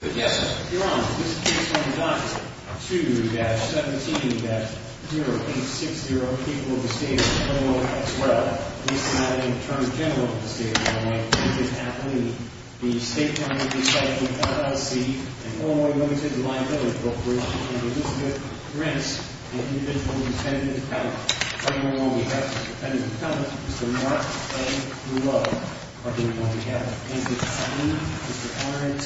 2-17-0860, People of the State of Illinois, as well as the Attorney General of the State of Illinois, Mrs. Atlee, the State Department of Recycling, LLC, and Illinois Women's Individual Liability Corporation, and Elizabeth Rents, the Individual Intended Defendant, Mr. Mark A. Love, are being called together. Mr. R. N. T.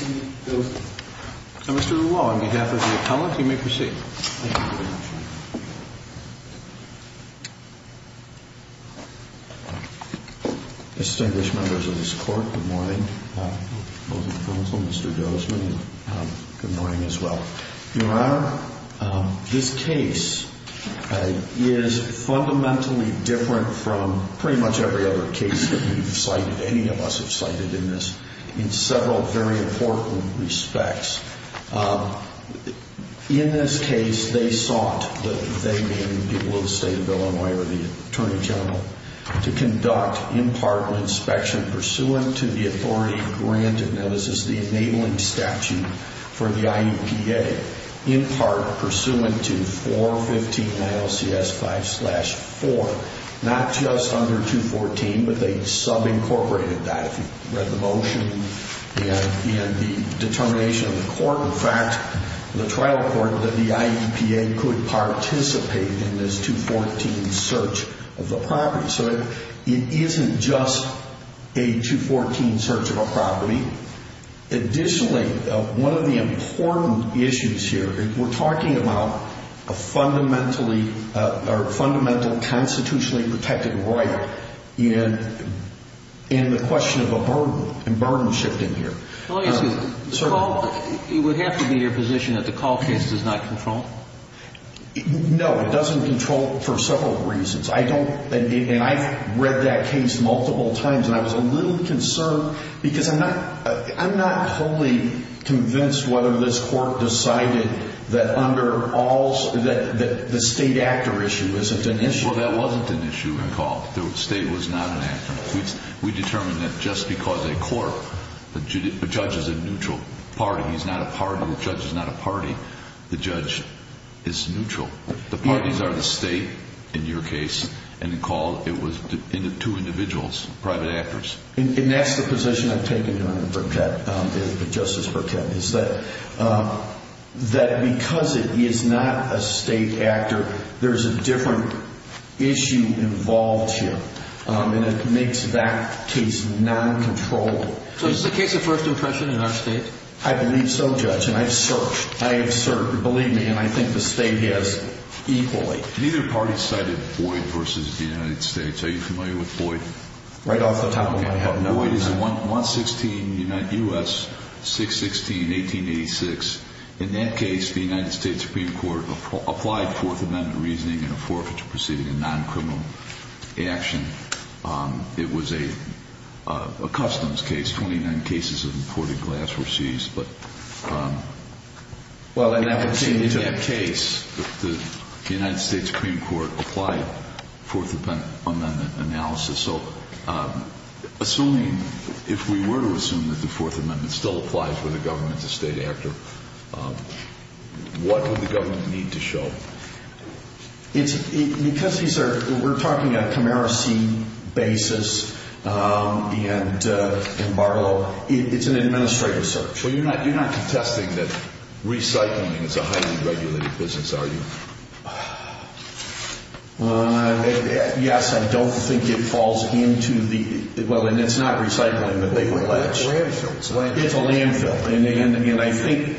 Gozman. Mr. Lula, on behalf of the Attorney General of the State of Illinois, you may proceed. Thank you very much, Your Honor. Distinguished Members of this Court, good morning. Both the Counsel, Mr. Gozman, and good morning as well. Your Honor, this case is fundamentally different from pretty much every other case that we've cited, any of us have cited in this, in several very important respects. In this case, they sought, they meaning the people of the State of Illinois or the Attorney General, to conduct in part an inspection pursuant to the authority granted, now this is the enabling statute for the IEPA, in part pursuant to 415 ILCS 5-4, not just under 214, but they subincorporated that. We've read the motion and the determination of the court, in fact, the trial court, that the IEPA could participate in this 214 search of the property. So it isn't just a 214 search of a property. Additionally, one of the important issues here, we're talking about a fundamentally, or a fundamentally constitutionally protected right, and the question of a burden, and burden shifting here. Let me ask you, the call, it would have to be your position that the call case does not control? No, it doesn't control for several reasons. I don't, and I've read that case multiple times, and I was a little concerned, because I'm not, I'm not totally convinced whether this court decided that under all, that the state actor issue isn't an issue. Well, that wasn't an issue in the call. The state was not an actor. We determined that just because a court, a judge is a neutral party, he's not a party, the judge is not a party, the judge is neutral. The parties are the state, in your case, and in the call, it was two individuals, private actors. And that's the position I've taken, Your Honor, from Justice Burkett, is that because it is not a state actor, there's a different issue involved here, and it makes that case non-controllable. So is this a case of first impression in our state? I believe so, Judge, and I've searched. I have searched, believe me, and I think the state has equally. Neither party cited Boyd v. United States. Are you familiar with Boyd? Right off the top of my head. Boyd is in 116 U.S., 616, 1886. In that case, the United States Supreme Court applied Fourth Amendment reasoning in a forfeiture proceeding, a non-criminal action. It was a customs case, 29 cases of imported glass were seized. But in that case, the United States Supreme Court applied Fourth Amendment analysis. So assuming, if we were to assume that the Fourth Amendment still applies for the government to state actor, what would the government need to show? Because these are, we're talking a commercy basis, and Barlow, it's an administrative search. Well, you're not contesting that recycling is a highly regulated business, are you? Yes, I don't think it falls into the, well, and it's not recycling, but they would allege. It's a landfill. It's a landfill, and I think,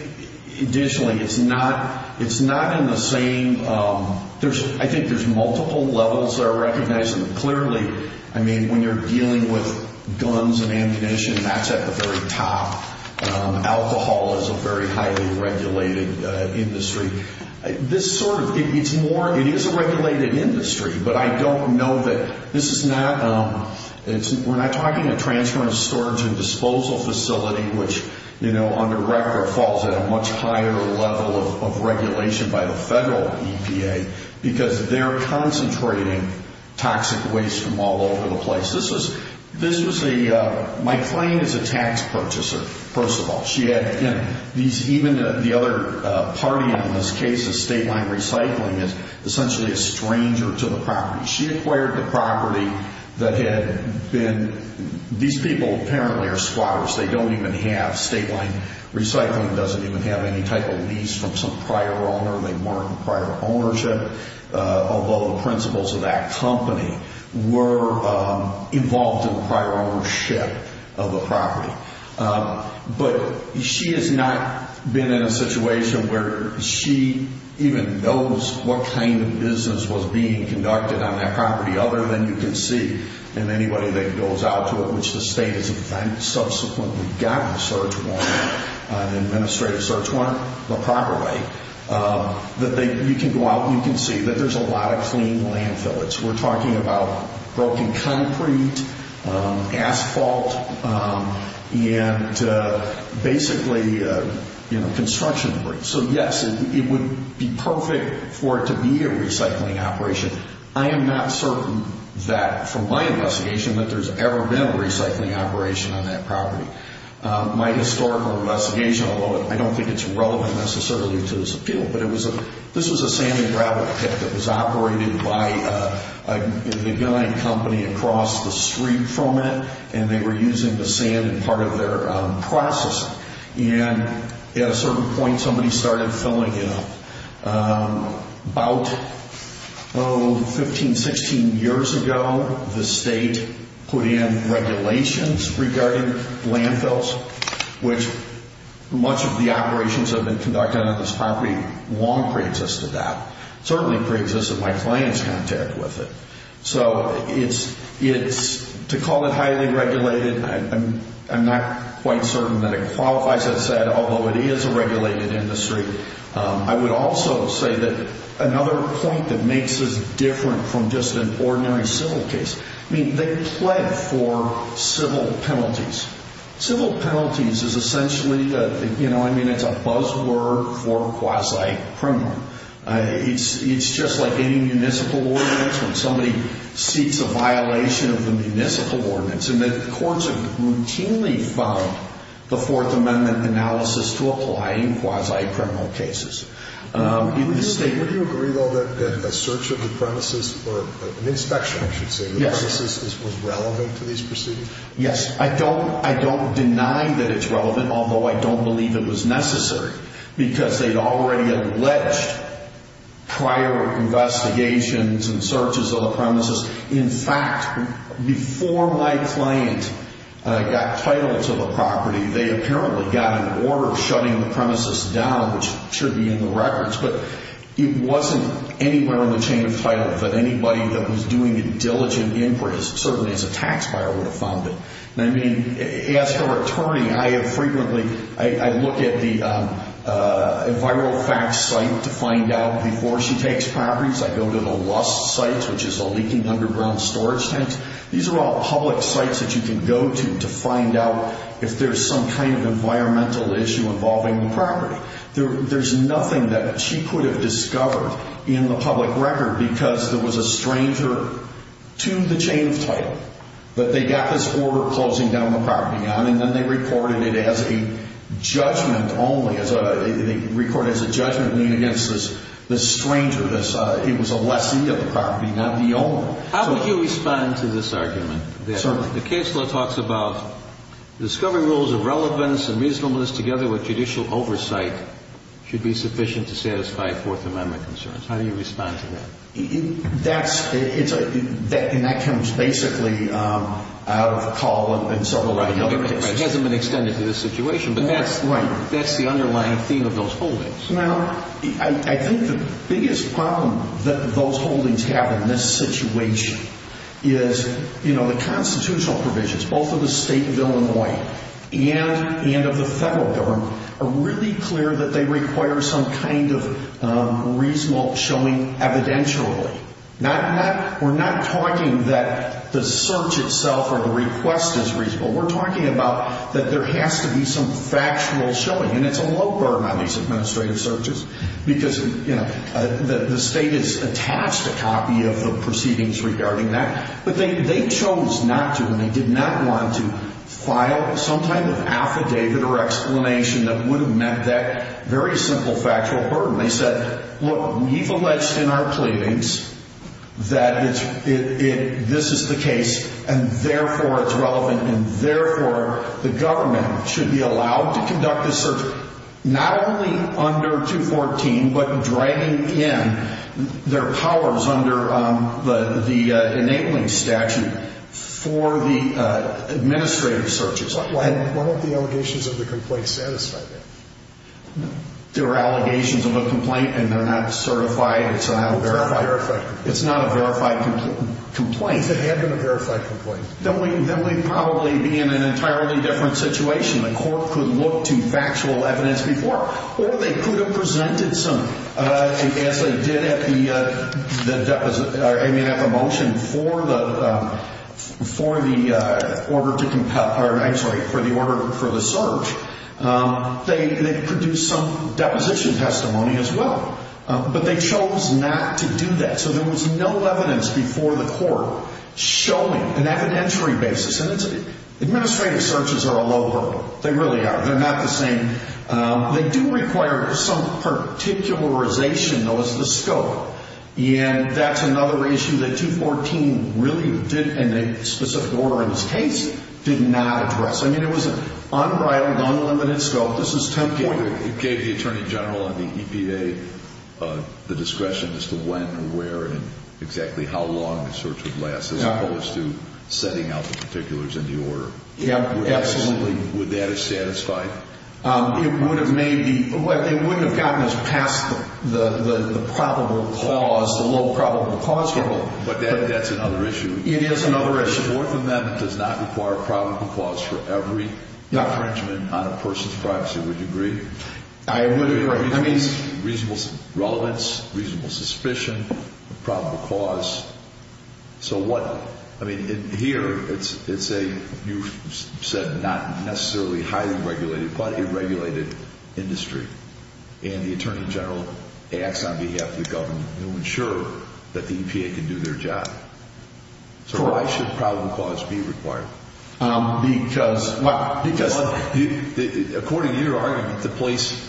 additionally, it's not in the same, I think there's multiple levels that are recognized. Clearly, I mean, when you're dealing with guns and ammunition, that's at the very top. Alcohol is a very highly regulated industry. This sort of, it's more, it is a regulated industry. But I don't know that, this is not, we're not talking a transfer and storage and disposal facility, which, you know, under record falls at a much higher level of regulation by the federal EPA, because they're concentrating toxic waste from all over the place. This was a, my claim is a tax purchaser, first of all. She had, you know, these, even the other party on this case, the state line recycling, is essentially a stranger to the property. She acquired the property that had been, these people apparently are squatters. They don't even have state line recycling, doesn't even have any type of lease from some prior owner. They weren't prior ownership, although the principals of that company were involved in prior ownership of the property. But she has not been in a situation where she even knows what kind of business was being conducted on that property other than you can see in anybody that goes out to it, which the state has subsequently gotten a search warrant, an administrative search warrant, the proper way, that they, you can go out and you can see that there's a lot of clean landfill. We're talking about broken concrete, asphalt, and basically, you know, construction debris. So yes, it would be perfect for it to be a recycling operation. I am not certain that, from my investigation, that there's ever been a recycling operation on that property. My historical investigation, although I don't think it's relevant necessarily to this appeal, but it was a, this was a sand and gravel pit that was operated by a big line company across the street from it, and they were using the sand in part of their processing. And at a certain point, somebody started filling it up. About, oh, 15, 16 years ago, the state put in regulations regarding landfills, which much of the operations that have been conducted on this property long preexisted that. It certainly preexisted my client's contact with it. So it's, to call it highly regulated, I'm not quite certain that it qualifies as said, although it is a regulated industry. I would also say that another point that makes this different from just an ordinary civil case, I mean, they plead for civil penalties. Civil penalties is essentially the, you know, I mean, it's a buzz word for quasi-criminal. It's just like any municipal ordinance. When somebody seeks a violation of the municipal ordinance, and the courts have routinely found the Fourth Amendment analysis to apply in quasi-criminal cases. In this state. Would you agree, though, that a search of the premises, or an inspection, I should say, the premises was relevant to these proceedings? Yes, I don't deny that it's relevant, although I don't believe it was necessary. Because they'd already alleged prior investigations and searches of the premises. In fact, before my client got title to the property, they apparently got an order shutting the premises down, which should be in the records. But it wasn't anywhere in the chain of title that anybody that was doing a diligent inquiry, certainly as a tax buyer, would have found it. And I mean, as her attorney, I have frequently, I look at the viral facts site to find out before she takes properties. I go to the lust site, which is a leaking underground storage tent. These are all public sites that you can go to, to find out if there's some kind of environmental issue involving the property. There's nothing that she could have discovered in the public record because there was a stranger to the chain of title. But they got this order closing down the property down, and then they recorded it as a judgment only. They recorded it as a judgment against this stranger. It was a lessee of the property, not the owner. How would you respond to this argument? Certainly. The case law talks about discovering rules of relevance and reasonableness together with judicial oversight should be sufficient to satisfy Fourth Amendment concerns. How do you respond to that? And that comes basically out of Call and several other cases. It hasn't been extended to this situation, but that's the underlying theme of those holdings. Now, I think the biggest problem that those holdings have in this situation is, you know, the constitutional provisions, both of the state of Illinois and of the federal government, are really clear that they require some kind of reasonable showing evidentially. We're not talking that the search itself or the request is reasonable. We're talking about that there has to be some factual showing, and it's a low burden on these administrative searches because, you know, the state is attached a copy of the proceedings regarding that. But they chose not to, and they did not want to file some kind of affidavit or explanation that would have meant that very simple factual burden. They said, look, we've alleged in our pleadings that this is the case, and therefore it's relevant, and therefore the government should be allowed to conduct a search not only under 214, but dragging in their powers under the enabling statute for the administrative searches. Why don't the allegations of the complaint satisfy that? They're allegations of a complaint, and they're not certified. It's not a verified complaint. If it had been a verified complaint. Then we'd probably be in an entirely different situation. The court could look to factual evidence before, or they could have presented some, But as they did at the motion for the order to compel, or I'm sorry, for the search, they produced some deposition testimony as well. But they chose not to do that. So there was no evidence before the court showing an evidentiary basis. And administrative searches are a low burden. They really are. They're not the same. They do require some particularization, though, as the scope. And that's another issue that 214 really did, in a specific order in this case, did not address. I mean, it was an unbridled, unlimited scope. This is 10.8. It gave the Attorney General and the EPA the discretion as to when and where and exactly how long the search would last as opposed to setting out the particulars in the order. Absolutely. Absolutely. Would that have satisfied? It would have maybe. It wouldn't have gotten us past the probable cause, the low probable cause level. But that's another issue. It is another issue. The Fourth Amendment does not require a probable cause for every infringement on a person's privacy. Would you agree? I would agree. Reasonable relevance, reasonable suspicion, probable cause. So what? I mean, here, it's a, you said, not necessarily highly regulated, but a regulated industry. And the Attorney General acts on behalf of the government to ensure that the EPA can do their job. So why should probable cause be required? Because. According to your argument, the place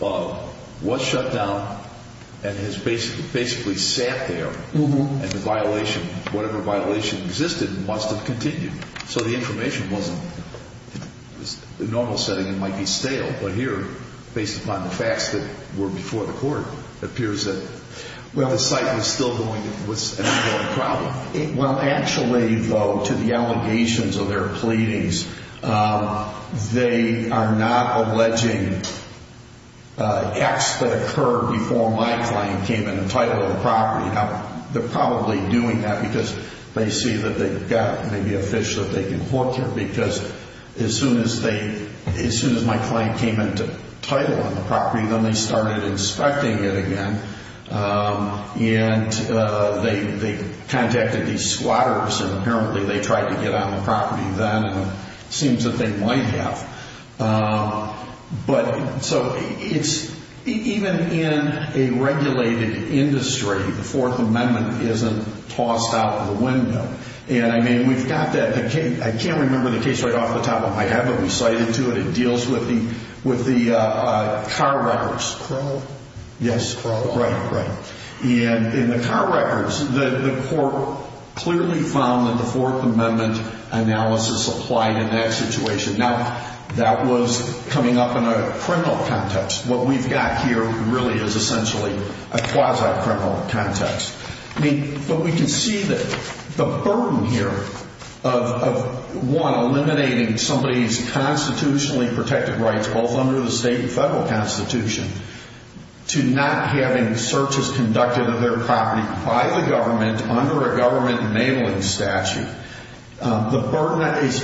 was shut down and has basically sat there. And the violation, whatever violation existed, must have continued. So the information wasn't, in a normal setting, it might be stale. But here, based upon the facts that were before the court, it appears that the site was still going, was an ongoing problem. Well, actually, though, to the allegations of their pleadings, they are not alleging acts that occurred before my client came in and titled the property. Now, they're probably doing that because they see that they've got maybe a fish that they can hook here. Because as soon as they, as soon as my client came in to title on the property, then they started inspecting it again. And they contacted these squatters, and apparently they tried to get on the property then. And it seems that they might have. But, so, it's, even in a regulated industry, the Fourth Amendment isn't tossed out the window. And, I mean, we've got that, I can't remember the case right off the top of my head, but we cited to it. It deals with the, with the car wreckers. Crow? Yes, Crow. Right, right. And in the car wreckers, the court clearly found that the Fourth Amendment analysis applied in that situation. Now, that was coming up in a criminal context. What we've got here really is essentially a quasi-criminal context. I mean, but we can see that the burden here of, one, eliminating somebody's constitutionally protected rights, both under the state and federal constitution, to not having searches conducted of their property by the government under a government mailing statute, the burden is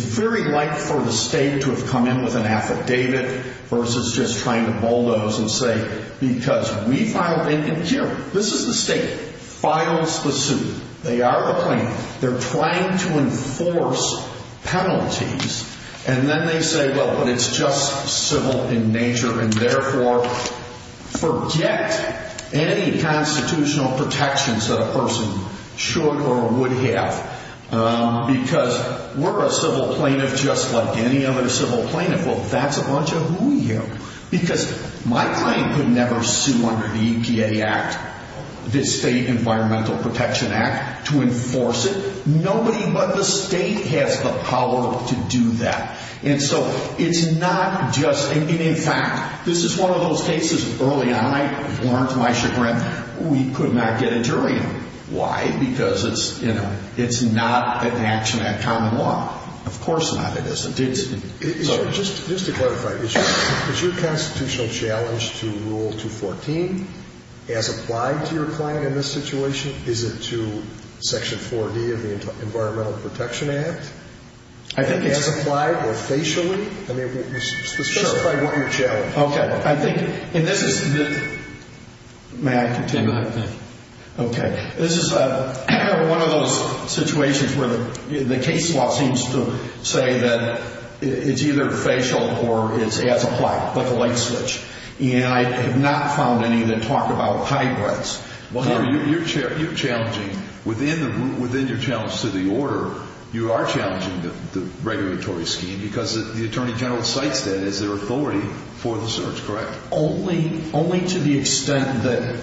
very light for the state to have come in with an affidavit versus just trying to bulldoze and say, because we filed it, and here, this is the state, files the suit. They are the plaintiff. They're trying to enforce penalties. And then they say, well, but it's just civil in nature, and therefore, forget any constitutional protections that a person should or would have. Because we're a civil plaintiff just like any other civil plaintiff. Well, that's a bunch of hoo-ya. Because my client could never sue under the EPA Act, the State Environmental Protection Act, to enforce it. Nobody but the state has the power to do that. And so it's not just, I mean, in fact, this is one of those cases early on. I learned my chagrin. We could not get a jury. Why? Because it's not an action in common law. Of course not, it isn't. Just to clarify, is your constitutional challenge to Rule 214 as applied to your client in this situation? Is it to Section 4D of the Environmental Protection Act? I think it's... As applied or facially? I mean, specify what your challenge is. Okay. I think, and this is the... May I continue? Go ahead. Okay. This is one of those situations where the case law seems to say that it's either facial or it's as applied, like a light switch. And I have not found any that talk about hybrids. Well, you're challenging, within your challenge to the order, you are challenging the regulatory scheme because the Attorney General cites that as their authority for the search, correct? Only to the extent that...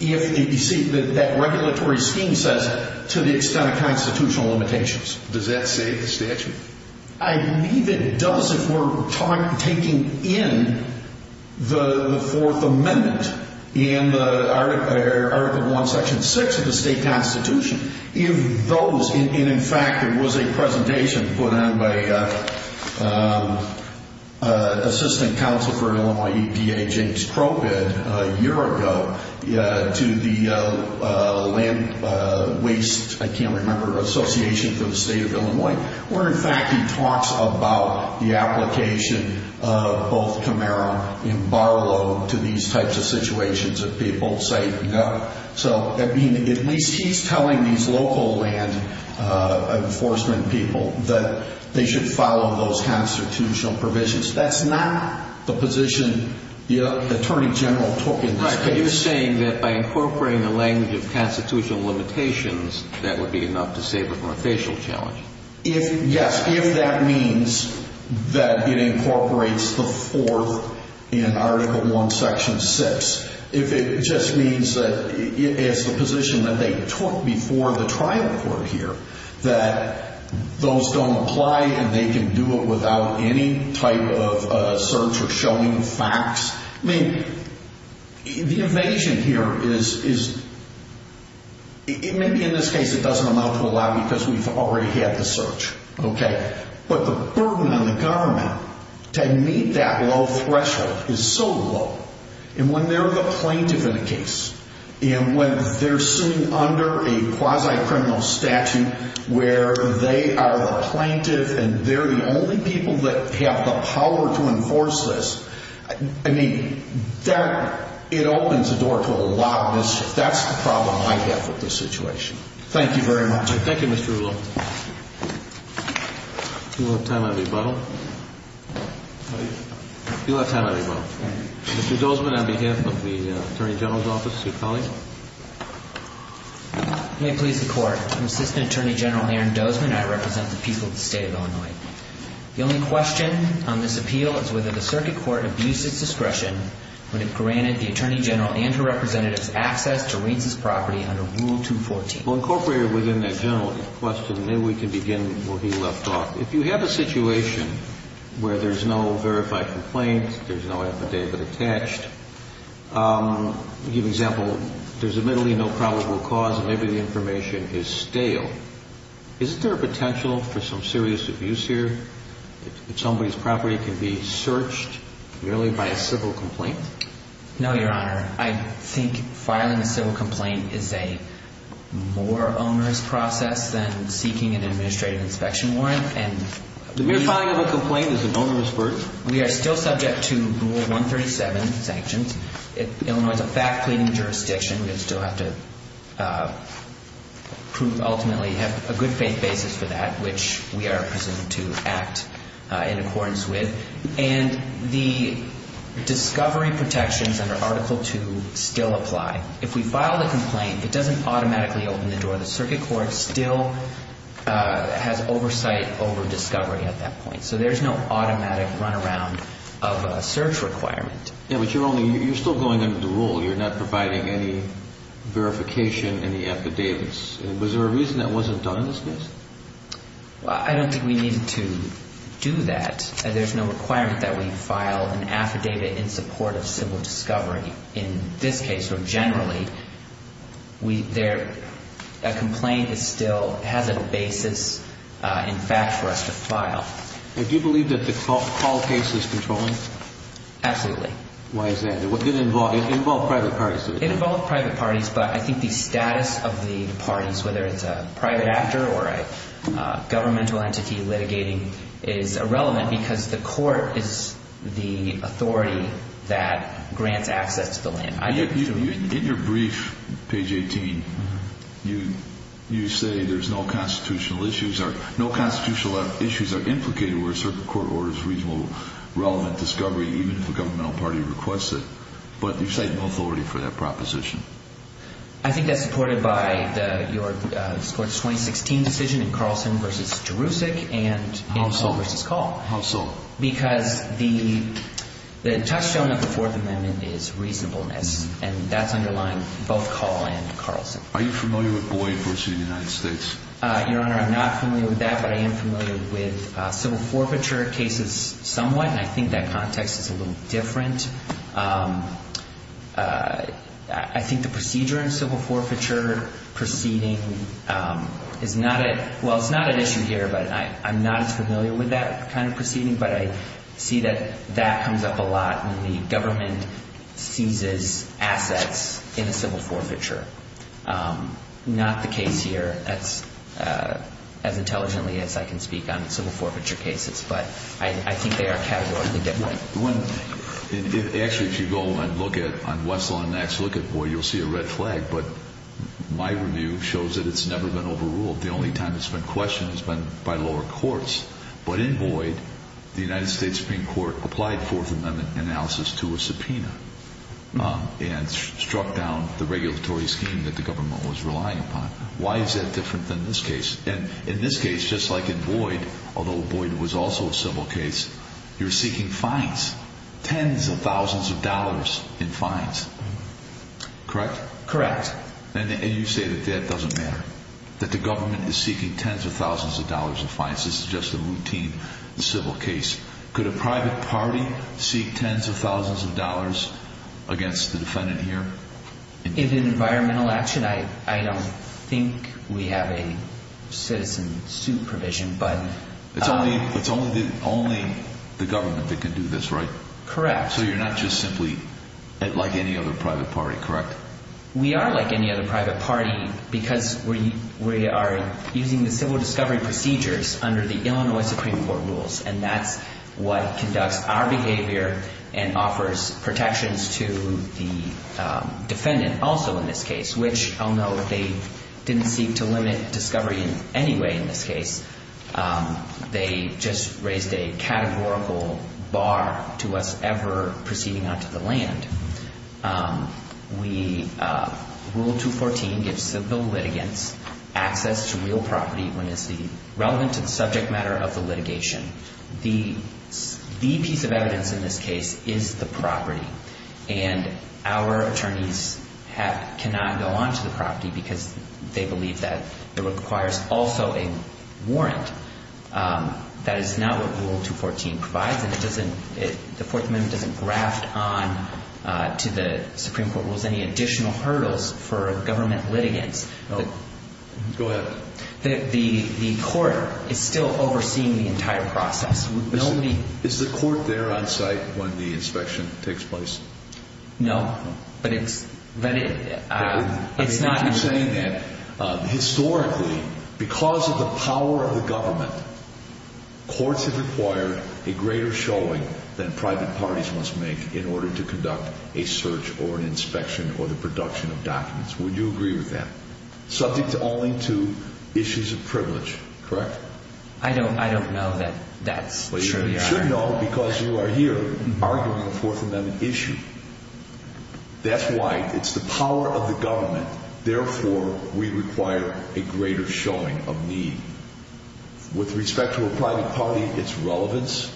You see, that regulatory scheme says, to the extent of constitutional limitations. Does that say in the statute? I believe it does if we're taking in the Fourth Amendment in Article 1, Section 6 of the state constitution. And, in fact, there was a presentation put on by Assistant Counsel for Illinois EPA, James Kropid, a year ago to the Land Waste, I can't remember, Association for the State of Illinois. Where, in fact, he talks about the application of both Camaro and Barlow to these types of situations if people say no. So, I mean, at least he's telling these local land enforcement people that they should follow those constitutional provisions. That's not the position the Attorney General took in this case. Right, but you're saying that by incorporating the language of constitutional limitations, that would be enough to save it from a facial challenge. Yes, if that means that it incorporates the Fourth in Article 1, Section 6. If it just means that it's the position that they took before the trial court here. That those don't apply and they can do it without any type of search or showing facts. I mean, the evasion here is, maybe in this case it doesn't amount to a lot because we've already had the search. But the burden on the government to meet that low threshold is so low. And when they're the plaintiff in a case, and when they're sitting under a quasi-criminal statute where they are the plaintiff and they're the only people that have the power to enforce this. I mean, that, it opens the door to a lot. That's the problem I have with this situation. Thank you very much. Thank you, Mr. Rouleau. Do we have time on rebuttal? Do we have time on rebuttal? Mr. Dozman, on behalf of the Attorney General's office, do you call him? May it please the Court, I'm Assistant Attorney General Aaron Dozman and I represent the people of the State of Illinois. The only question on this appeal is whether the circuit court abused its discretion when it granted the Attorney General and her representatives access to Reince's property under Rule 214. Well, incorporated within that general question, maybe we can begin where he left off. If you have a situation where there's no verified complaint, there's no affidavit attached, I'll give you an example. There's admittedly no probable cause and maybe the information is stale. Is there a potential for some serious abuse here if somebody's property can be searched merely by a civil complaint? No, Your Honor. I think filing a civil complaint is a more onerous process than seeking an administrative inspection warrant. The mere filing of a complaint is an onerous burden? We are still subject to Rule 137 sanctions. Illinois is a fact pleading jurisdiction. We still have to ultimately have a good faith basis for that, which we are presumed to act in accordance with. And the discovery protections under Article 2 still apply. If we file a complaint, it doesn't automatically open the door. The circuit court still has oversight over discovery at that point. So there's no automatic runaround of a search requirement. Yeah, but you're still going under the rule. You're not providing any verification, any affidavits. Was there a reason that wasn't done in this case? I don't think we needed to do that. There's no requirement that we file an affidavit in support of civil discovery in this case. But generally, a complaint still has a basis in fact for us to file. Do you believe that the Call case is controlling? Absolutely. Why is that? It involved private parties. It involved private parties, but I think the status of the parties, whether it's a private actor or a governmental entity litigating, is irrelevant because the court is the authority that grants access to the land. In your brief, page 18, you say there's no constitutional issues. No constitutional issues are implicated where a circuit court orders reasonable, relevant discovery, even if the governmental party requests it. But you cite no authority for that proposition. I think that's supported by your 2016 decision in Carlson v. Jerusalem and in Call v. Call. How so? Because the touchstone of the Fourth Amendment is reasonableness, and that's underlying both Call and Carlson. Are you familiar with Boyd v. United States? Your Honor, I'm not familiar with that, but I am familiar with civil forfeiture cases somewhat, and I think that context is a little different. I think the procedure in civil forfeiture proceeding is not a – well, it's not an issue here, but I'm not as familiar with that kind of proceeding, but I see that that comes up a lot when the government seizes assets in a civil forfeiture. Not the case here. That's as intelligently as I can speak on civil forfeiture cases, but I think they are categorically different. Actually, if you go and look at – on Wessel and Nax, look at Boyd, you'll see a red flag. But my review shows that it's never been overruled. The only time it's been questioned has been by lower courts. But in Boyd, the United States Supreme Court applied Fourth Amendment analysis to a subpoena and struck down the regulatory scheme that the government was relying upon. Why is that different than this case? And in this case, just like in Boyd, although Boyd was also a civil case, you're seeking fines. Tens of thousands of dollars in fines. Correct? Correct. And you say that that doesn't matter, that the government is seeking tens of thousands of dollars in fines. This is just a routine civil case. Could a private party seek tens of thousands of dollars against the defendant here? In environmental action, I don't think we have a citizen suit provision. But it's only the government that can do this, right? Correct. So you're not just simply like any other private party, correct? We are like any other private party because we are using the civil discovery procedures under the Illinois Supreme Court rules, and that's what conducts our behavior and offers protections to the defendant also in this case, which although they didn't seek to limit discovery in any way in this case, they just raised a categorical bar to us ever proceeding onto the land. Rule 214 gives civil litigants access to real property when it's relevant to the subject matter of the litigation. The piece of evidence in this case is the property, and our attorneys cannot go onto the property because they believe that it requires also a warrant. That is not what Rule 214 provides, and the Fourth Amendment doesn't graft onto the Supreme Court rules any additional hurdles for government litigants. Go ahead. The court is still overseeing the entire process. Is the court there on site when the inspection takes place? No, but it's not... Historically, because of the power of the government, courts have required a greater showing than private parties must make in order to conduct a search or an inspection or the production of documents. Would you agree with that? Subject only to issues of privilege, correct? I don't know that that's... Well, you should know because you are here arguing a Fourth Amendment issue. That's why it's the power of the government. Therefore, we require a greater showing of need. With respect to a private party, it's relevance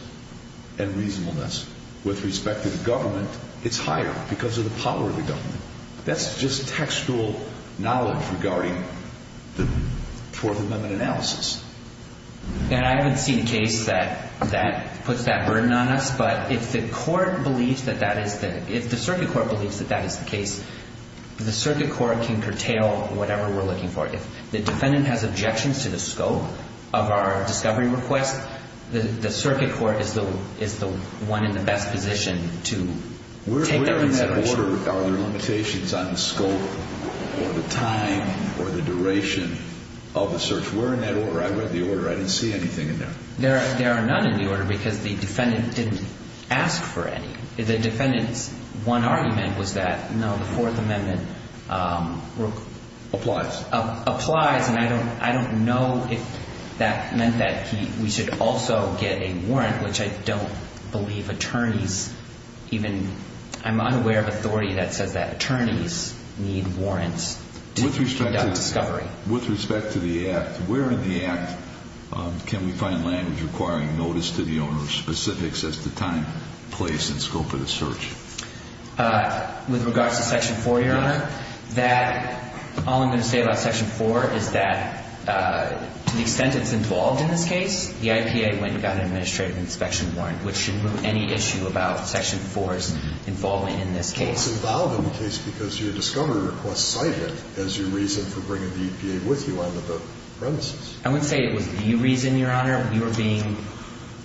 and reasonableness. With respect to the government, it's higher because of the power of the government. That's just textual knowledge regarding the Fourth Amendment analysis. I haven't seen a case that puts that burden on us, but if the circuit court believes that that is the case, the circuit court can curtail whatever we're looking for. If the defendant has objections to the scope of our discovery request, the circuit court is the one in the best position to take that consideration. Are there limitations on the scope or the time or the duration of the search? Where in that order? I read the order. I didn't see anything in there. There are none in the order because the defendant didn't ask for any. The defendant's one argument was that, no, the Fourth Amendment... Applies. Applies, and I don't know if that meant that we should also get a warrant, which I don't believe attorneys even... I'm unaware of authority that says that attorneys need warrants to conduct discovery. With respect to the Act, where in the Act can we find language requiring notice to the owner of specifics as to time, place, and scope of the search? With regards to Section 4, Your Honor, that... All I'm going to say about Section 4 is that to the extent it's involved in this case, the IPA went and got an administrative inspection warrant, which should remove any issue about Section 4's involvement in this case. Well, it's involved in the case because your discovery request cited as your reason for bringing the EPA with you onto the premises. I wouldn't say it was the reason, Your Honor. We were being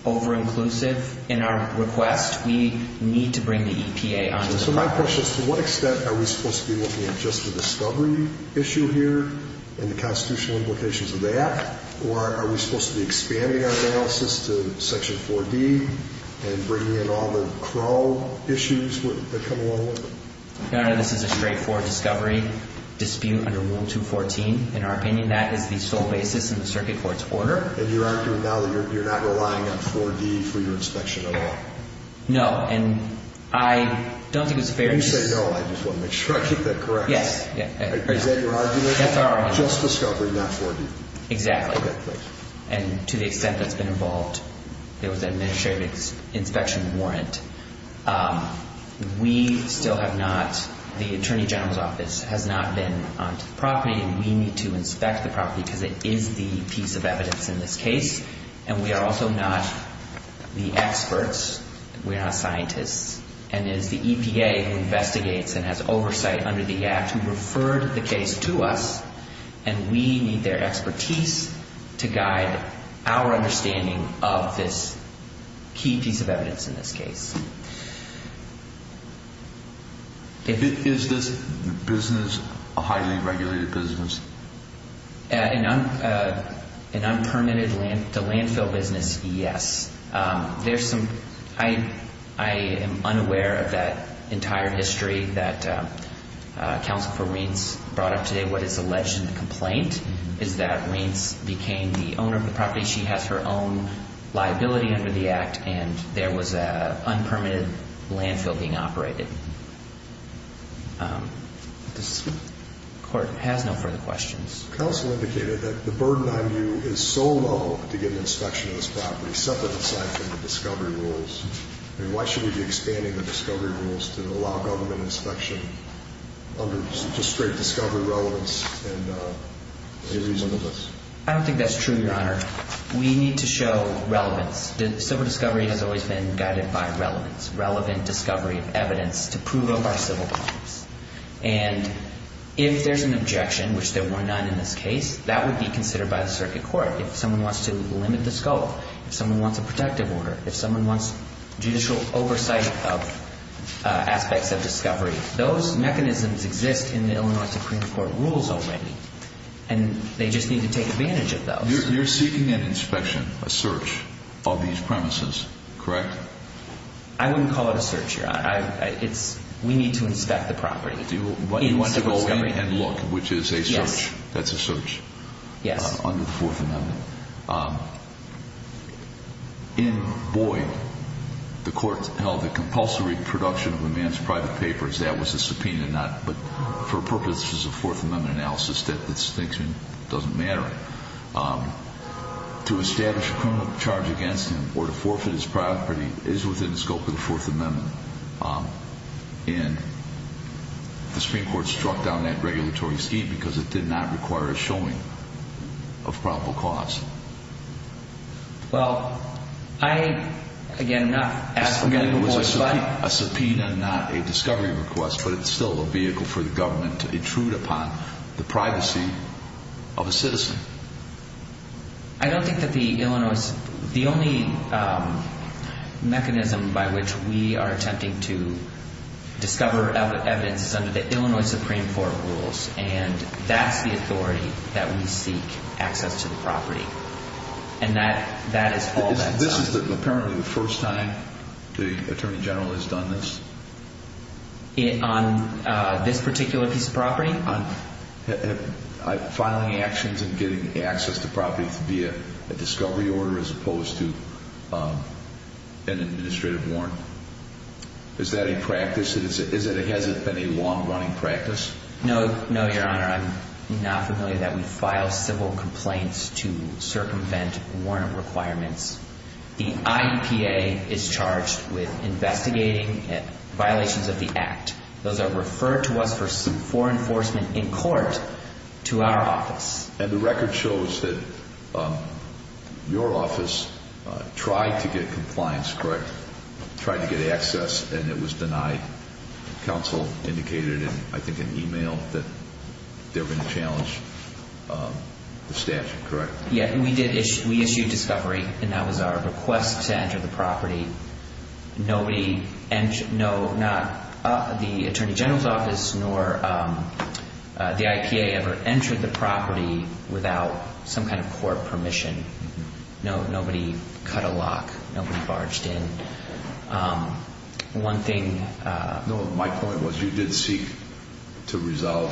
over-inclusive in our request. We need to bring the EPA onto the property. So my question is, to what extent are we supposed to be looking at just the discovery issue here and the constitutional implications of that? Or are we supposed to be expanding our analysis to Section 4D and bringing in all the Crow issues that come along with it? Your Honor, this is a straightforward discovery dispute under Rule 214. In our opinion, that is the sole basis in the circuit court's order. And you're arguing now that you're not relying on 4D for your inspection at all? No, and I don't think it was a fair... When you say no, I just want to make sure I get that correct. Yes. Is that your argument? That's our argument. Just discovery, not 4D. Exactly. And to the extent that's been involved, there was an administrative inspection warrant. We still have not, the Attorney General's Office has not been onto the property, and we need to inspect the property because it is the piece of evidence in this case. And we are also not the experts. We are not scientists. And it is the EPA who investigates and has oversight under the Act who referred the case to us, and we need their expertise to guide our understanding of this key piece of evidence in this case. Is this business a highly regulated business? An unpermitted to landfill business, yes. I am unaware of that entire history that Counsel for Reince brought up today. What is alleged in the complaint is that Reince became the owner of the property. She has her own liability under the Act, and there was an unpermitted landfill being operated. This Court has no further questions. Counsel indicated that the burden on you is so low to get an inspection of this property, set that aside for the discovery rules. I mean, why should we be expanding the discovery rules to allow government inspection under just straight discovery relevance and a reasonableness? I don't think that's true, Your Honor. We need to show relevance. Civil discovery has always been guided by relevance, relevant discovery of evidence to prove of our civil crimes. And if there's an objection, which there were none in this case, that would be considered by the circuit court. If someone wants to limit the scope, if someone wants a protective order, if someone wants judicial oversight of aspects of discovery, those mechanisms exist in the Illinois Supreme Court rules already, and they just need to take advantage of those. You're seeking an inspection, a search, of these premises, correct? I wouldn't call it a search, Your Honor. We need to inspect the property. You want to go in and look, which is a search. Yes. That's a search. Yes. Under the Fourth Amendment. In Boyd, the court held that compulsory production of a man's private papers, that was a subpoena not for purposes of Fourth Amendment analysis, that this thing doesn't matter. To establish a criminal charge against him or to forfeit his property is within the scope of the Fourth Amendment. And the Supreme Court struck down that regulatory scheme because it did not require a showing of probable cause. Well, I, again, I'm not asking for Boyd. Again, it was a subpoena, not a discovery request, but it's still a vehicle for the government to intrude upon the privacy of a citizen. I don't think that the Illinois, the only mechanism by which we are attempting to discover evidence is under the Illinois Supreme Court rules, and that's the authority that we seek access to the property. And that is all that's done. This is apparently the first time the Attorney General has done this? On this particular piece of property? Filing actions and getting access to property via a discovery order as opposed to an administrative warrant. Is that a practice? Has it been a long-running practice? No, Your Honor. I'm not familiar that we file civil complaints to circumvent warrant requirements. The IEPA is charged with investigating violations of the Act. Those are referred to us for enforcement in court to our office. And the record shows that your office tried to get compliance, correct? Tried to get access, and it was denied. Counsel indicated in, I think, an email that they were going to challenge the statute, correct? Yeah, we issued discovery, and that was our request to enter the property. Nobody, no, not the Attorney General's office, nor the IEPA ever entered the property without some kind of court permission. Nobody cut a lock. Nobody barged in. One thing. No, my point was you did seek to resolve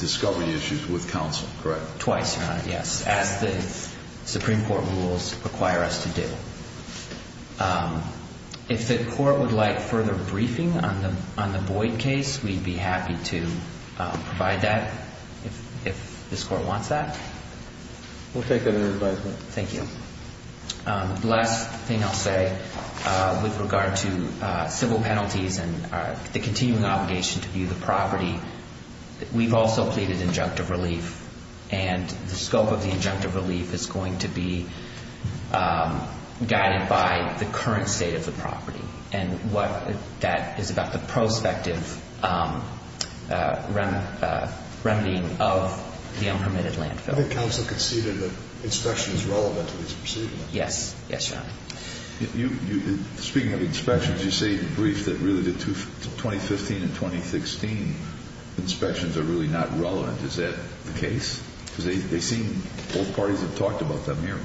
discovery issues with counsel, correct? Twice, Your Honor, yes, as the Supreme Court rules require us to do. If the court would like further briefing on the Boyd case, we'd be happy to provide that if this court wants that. We'll take that under advisement. Thank you. The last thing I'll say with regard to civil penalties and the continuing obligation to view the property, we've also pleaded injunctive relief, and the scope of the injunctive relief is going to be guided by the current state of the property, and that is about the prospective remedying of the unpermitted landfill. I think counsel conceded that inspection is relevant to this proceeding. Yes. Yes, Your Honor. Speaking of inspections, you say in the brief that really the 2015 and 2016 inspections are really not relevant. Is that the case? Because they seem both parties have talked about them here.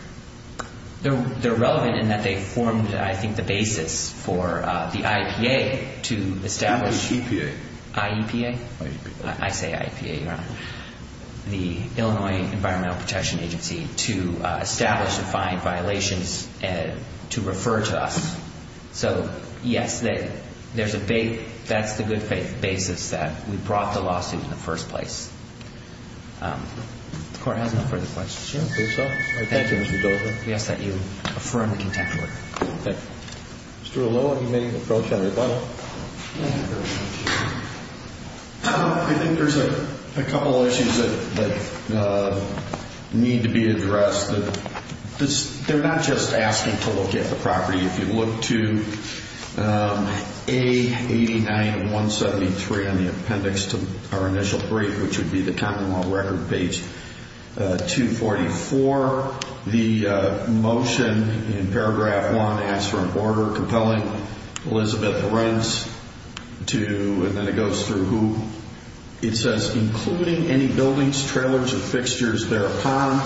They're relevant in that they formed, I think, the basis for the IEPA to establish. IEPA. IEPA. I say IEPA, Your Honor. The Illinois Environmental Protection Agency to establish and find violations and to refer to us. So, yes, that's the good basis that we brought the lawsuit in the first place. The court has no further questions. I think so. Thank you, Mr. Dozier. We ask that you affirm the contempt order. Mr. Aloha, you may approach on rebuttal. Thank you very much. I think there's a couple of issues that need to be addressed. They're not just asking to look at the property. If you look to A89173 on the appendix to our initial brief, which would be the Commonwealth Record, page 244, the motion in paragraph one asks for an order compelling Elizabeth Lorenz to, and then it goes through who, it says, including any buildings, trailers, and fixtures thereupon,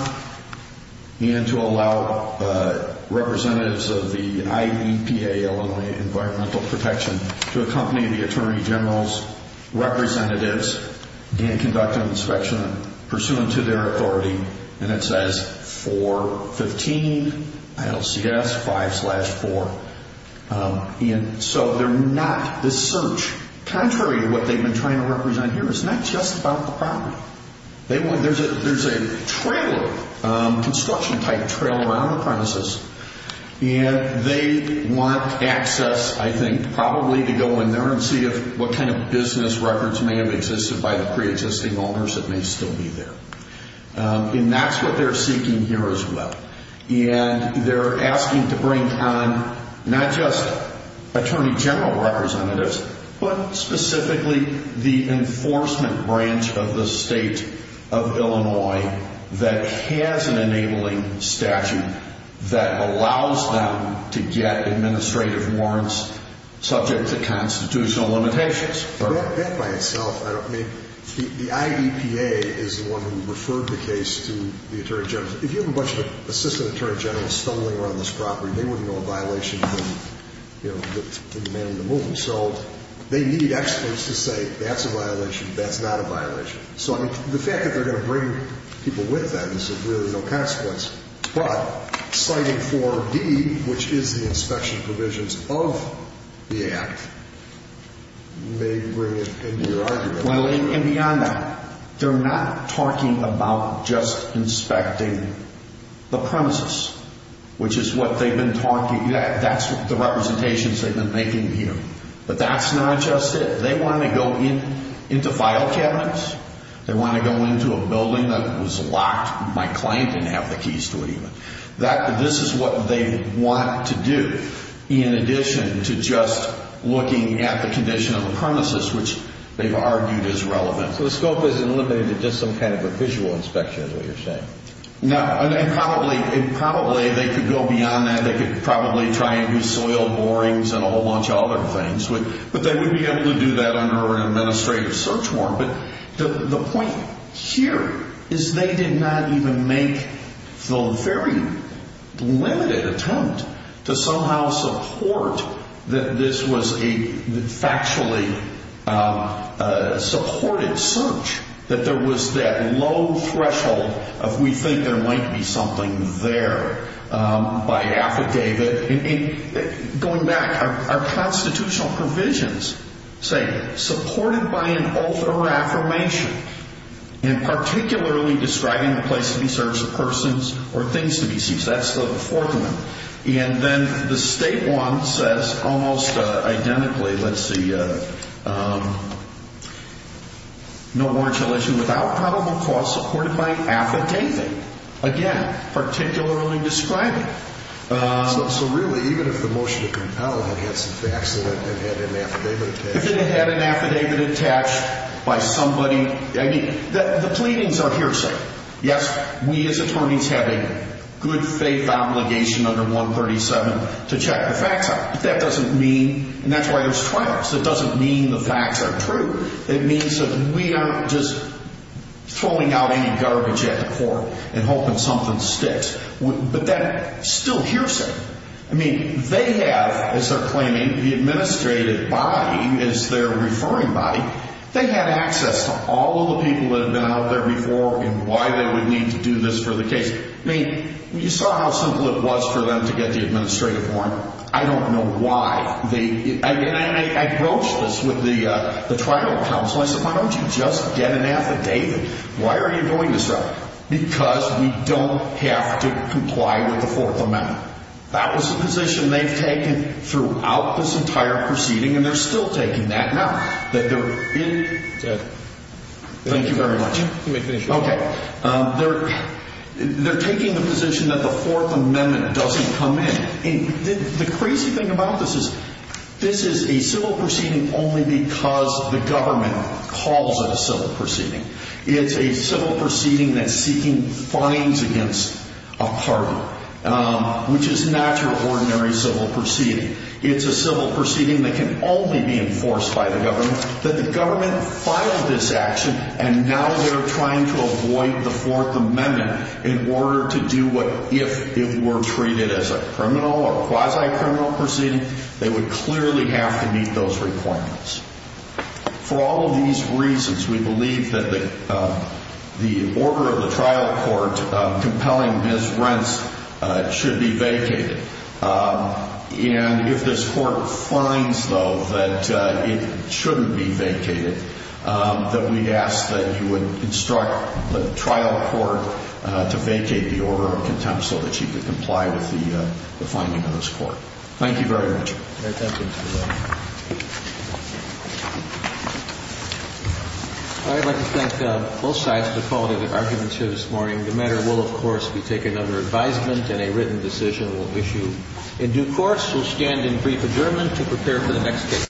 and to allow representatives of the IEPA, Illinois Environmental Protection, to accompany the Attorney General's representatives and conduct an inspection pursuant to their authority. And it says 415 ILCS 5 slash 4. And so they're not, this search, contrary to what they've been trying to represent here, is not just about the property. There's a trailer, construction-type trailer around the premises, and they want access, I think, probably to go in there and see what kind of business records may have existed by the preexisting owners that may still be there. And that's what they're seeking here as well. And they're asking to bring on not just Attorney General representatives, but specifically the enforcement branch of the state of Illinois that has an enabling statute that allows them to get administrative warrants subject to constitutional limitations. That by itself, I mean, the IEPA is the one who referred the case to the Attorney General. If you have a bunch of Assistant Attorney Generals stumbling around this property, they wouldn't know a violation from, you know, the man in the movie. So they need experts to say that's a violation, that's not a violation. So, I mean, the fact that they're going to bring people with them is really no consequence. But citing 4B, which is the inspection provisions of the Act, may bring it into your argument. Well, and beyond that, they're not talking about just inspecting the premises, which is what they've been talking about. That's the representations they've been making here. But that's not just it. They want to go into file cabinets. They want to go into a building that was locked. My client didn't have the keys to it even. This is what they want to do in addition to just looking at the condition of the premises, which they've argued is relevant. So the scope isn't limited to just some kind of a visual inspection is what you're saying? No, and probably they could go beyond that. They could probably try and do soil borings and a whole bunch of other things. But they would be able to do that under an administrative search warrant. But the point here is they did not even make the very limited attempt to somehow support that this was a factually supported search, that there was that low threshold of we think there might be something there by affidavit. Going back, our constitutional provisions say supported by an oath or affirmation and particularly describing the place to be searched, persons or things to be seized. That's the fourth one. And then the state one says almost identically, let's see, no marginal issue without probable cause supported by affidavit. Again, particularly describing. So really, even if the motion to compel had had some facts in it and had an affidavit attached. If it had an affidavit attached by somebody. I mean, the pleadings are hearsay. Yes, we as attorneys have a good faith obligation under 137 to check the facts out. But that doesn't mean, and that's why there's trials. It doesn't mean the facts are true. It means that we aren't just throwing out any garbage at the court and hoping something sticks. But that's still hearsay. I mean, they have, as they're claiming, the administrative body is their referring body. They have access to all of the people that have been out there before and why they would need to do this for the case. I mean, you saw how simple it was for them to get the administrative form. I don't know why. I broached this with the trial counsel. I said, why don't you just get an affidavit? Why are you doing this? Because we don't have to comply with the Fourth Amendment. That was the position they've taken throughout this entire proceeding, and they're still taking that now. Thank you very much. Okay. They're taking the position that the Fourth Amendment doesn't come in. The crazy thing about this is this is a civil proceeding only because the government calls it a civil proceeding. It's a civil proceeding that's seeking fines against a partner, which is not your ordinary civil proceeding. It's a civil proceeding that can only be enforced by the government, that the government filed this action, and now they're trying to avoid the Fourth Amendment in order to do what if it were treated as a criminal or quasi-criminal proceeding, they would clearly have to meet those requirements. For all of these reasons, we believe that the order of the trial court compelling his rents should be vacated. And if this court finds, though, that it shouldn't be vacated, that we ask that you would instruct the trial court to vacate the order of contempt so that she could comply with the finding of this court. Thank you very much. Thank you. I'd like to thank both sides for the quality of their arguments here this morning. The matter will, of course, be taken under advisement and a written decision will issue in due course. We'll stand in brief adjournment to prepare for the next case.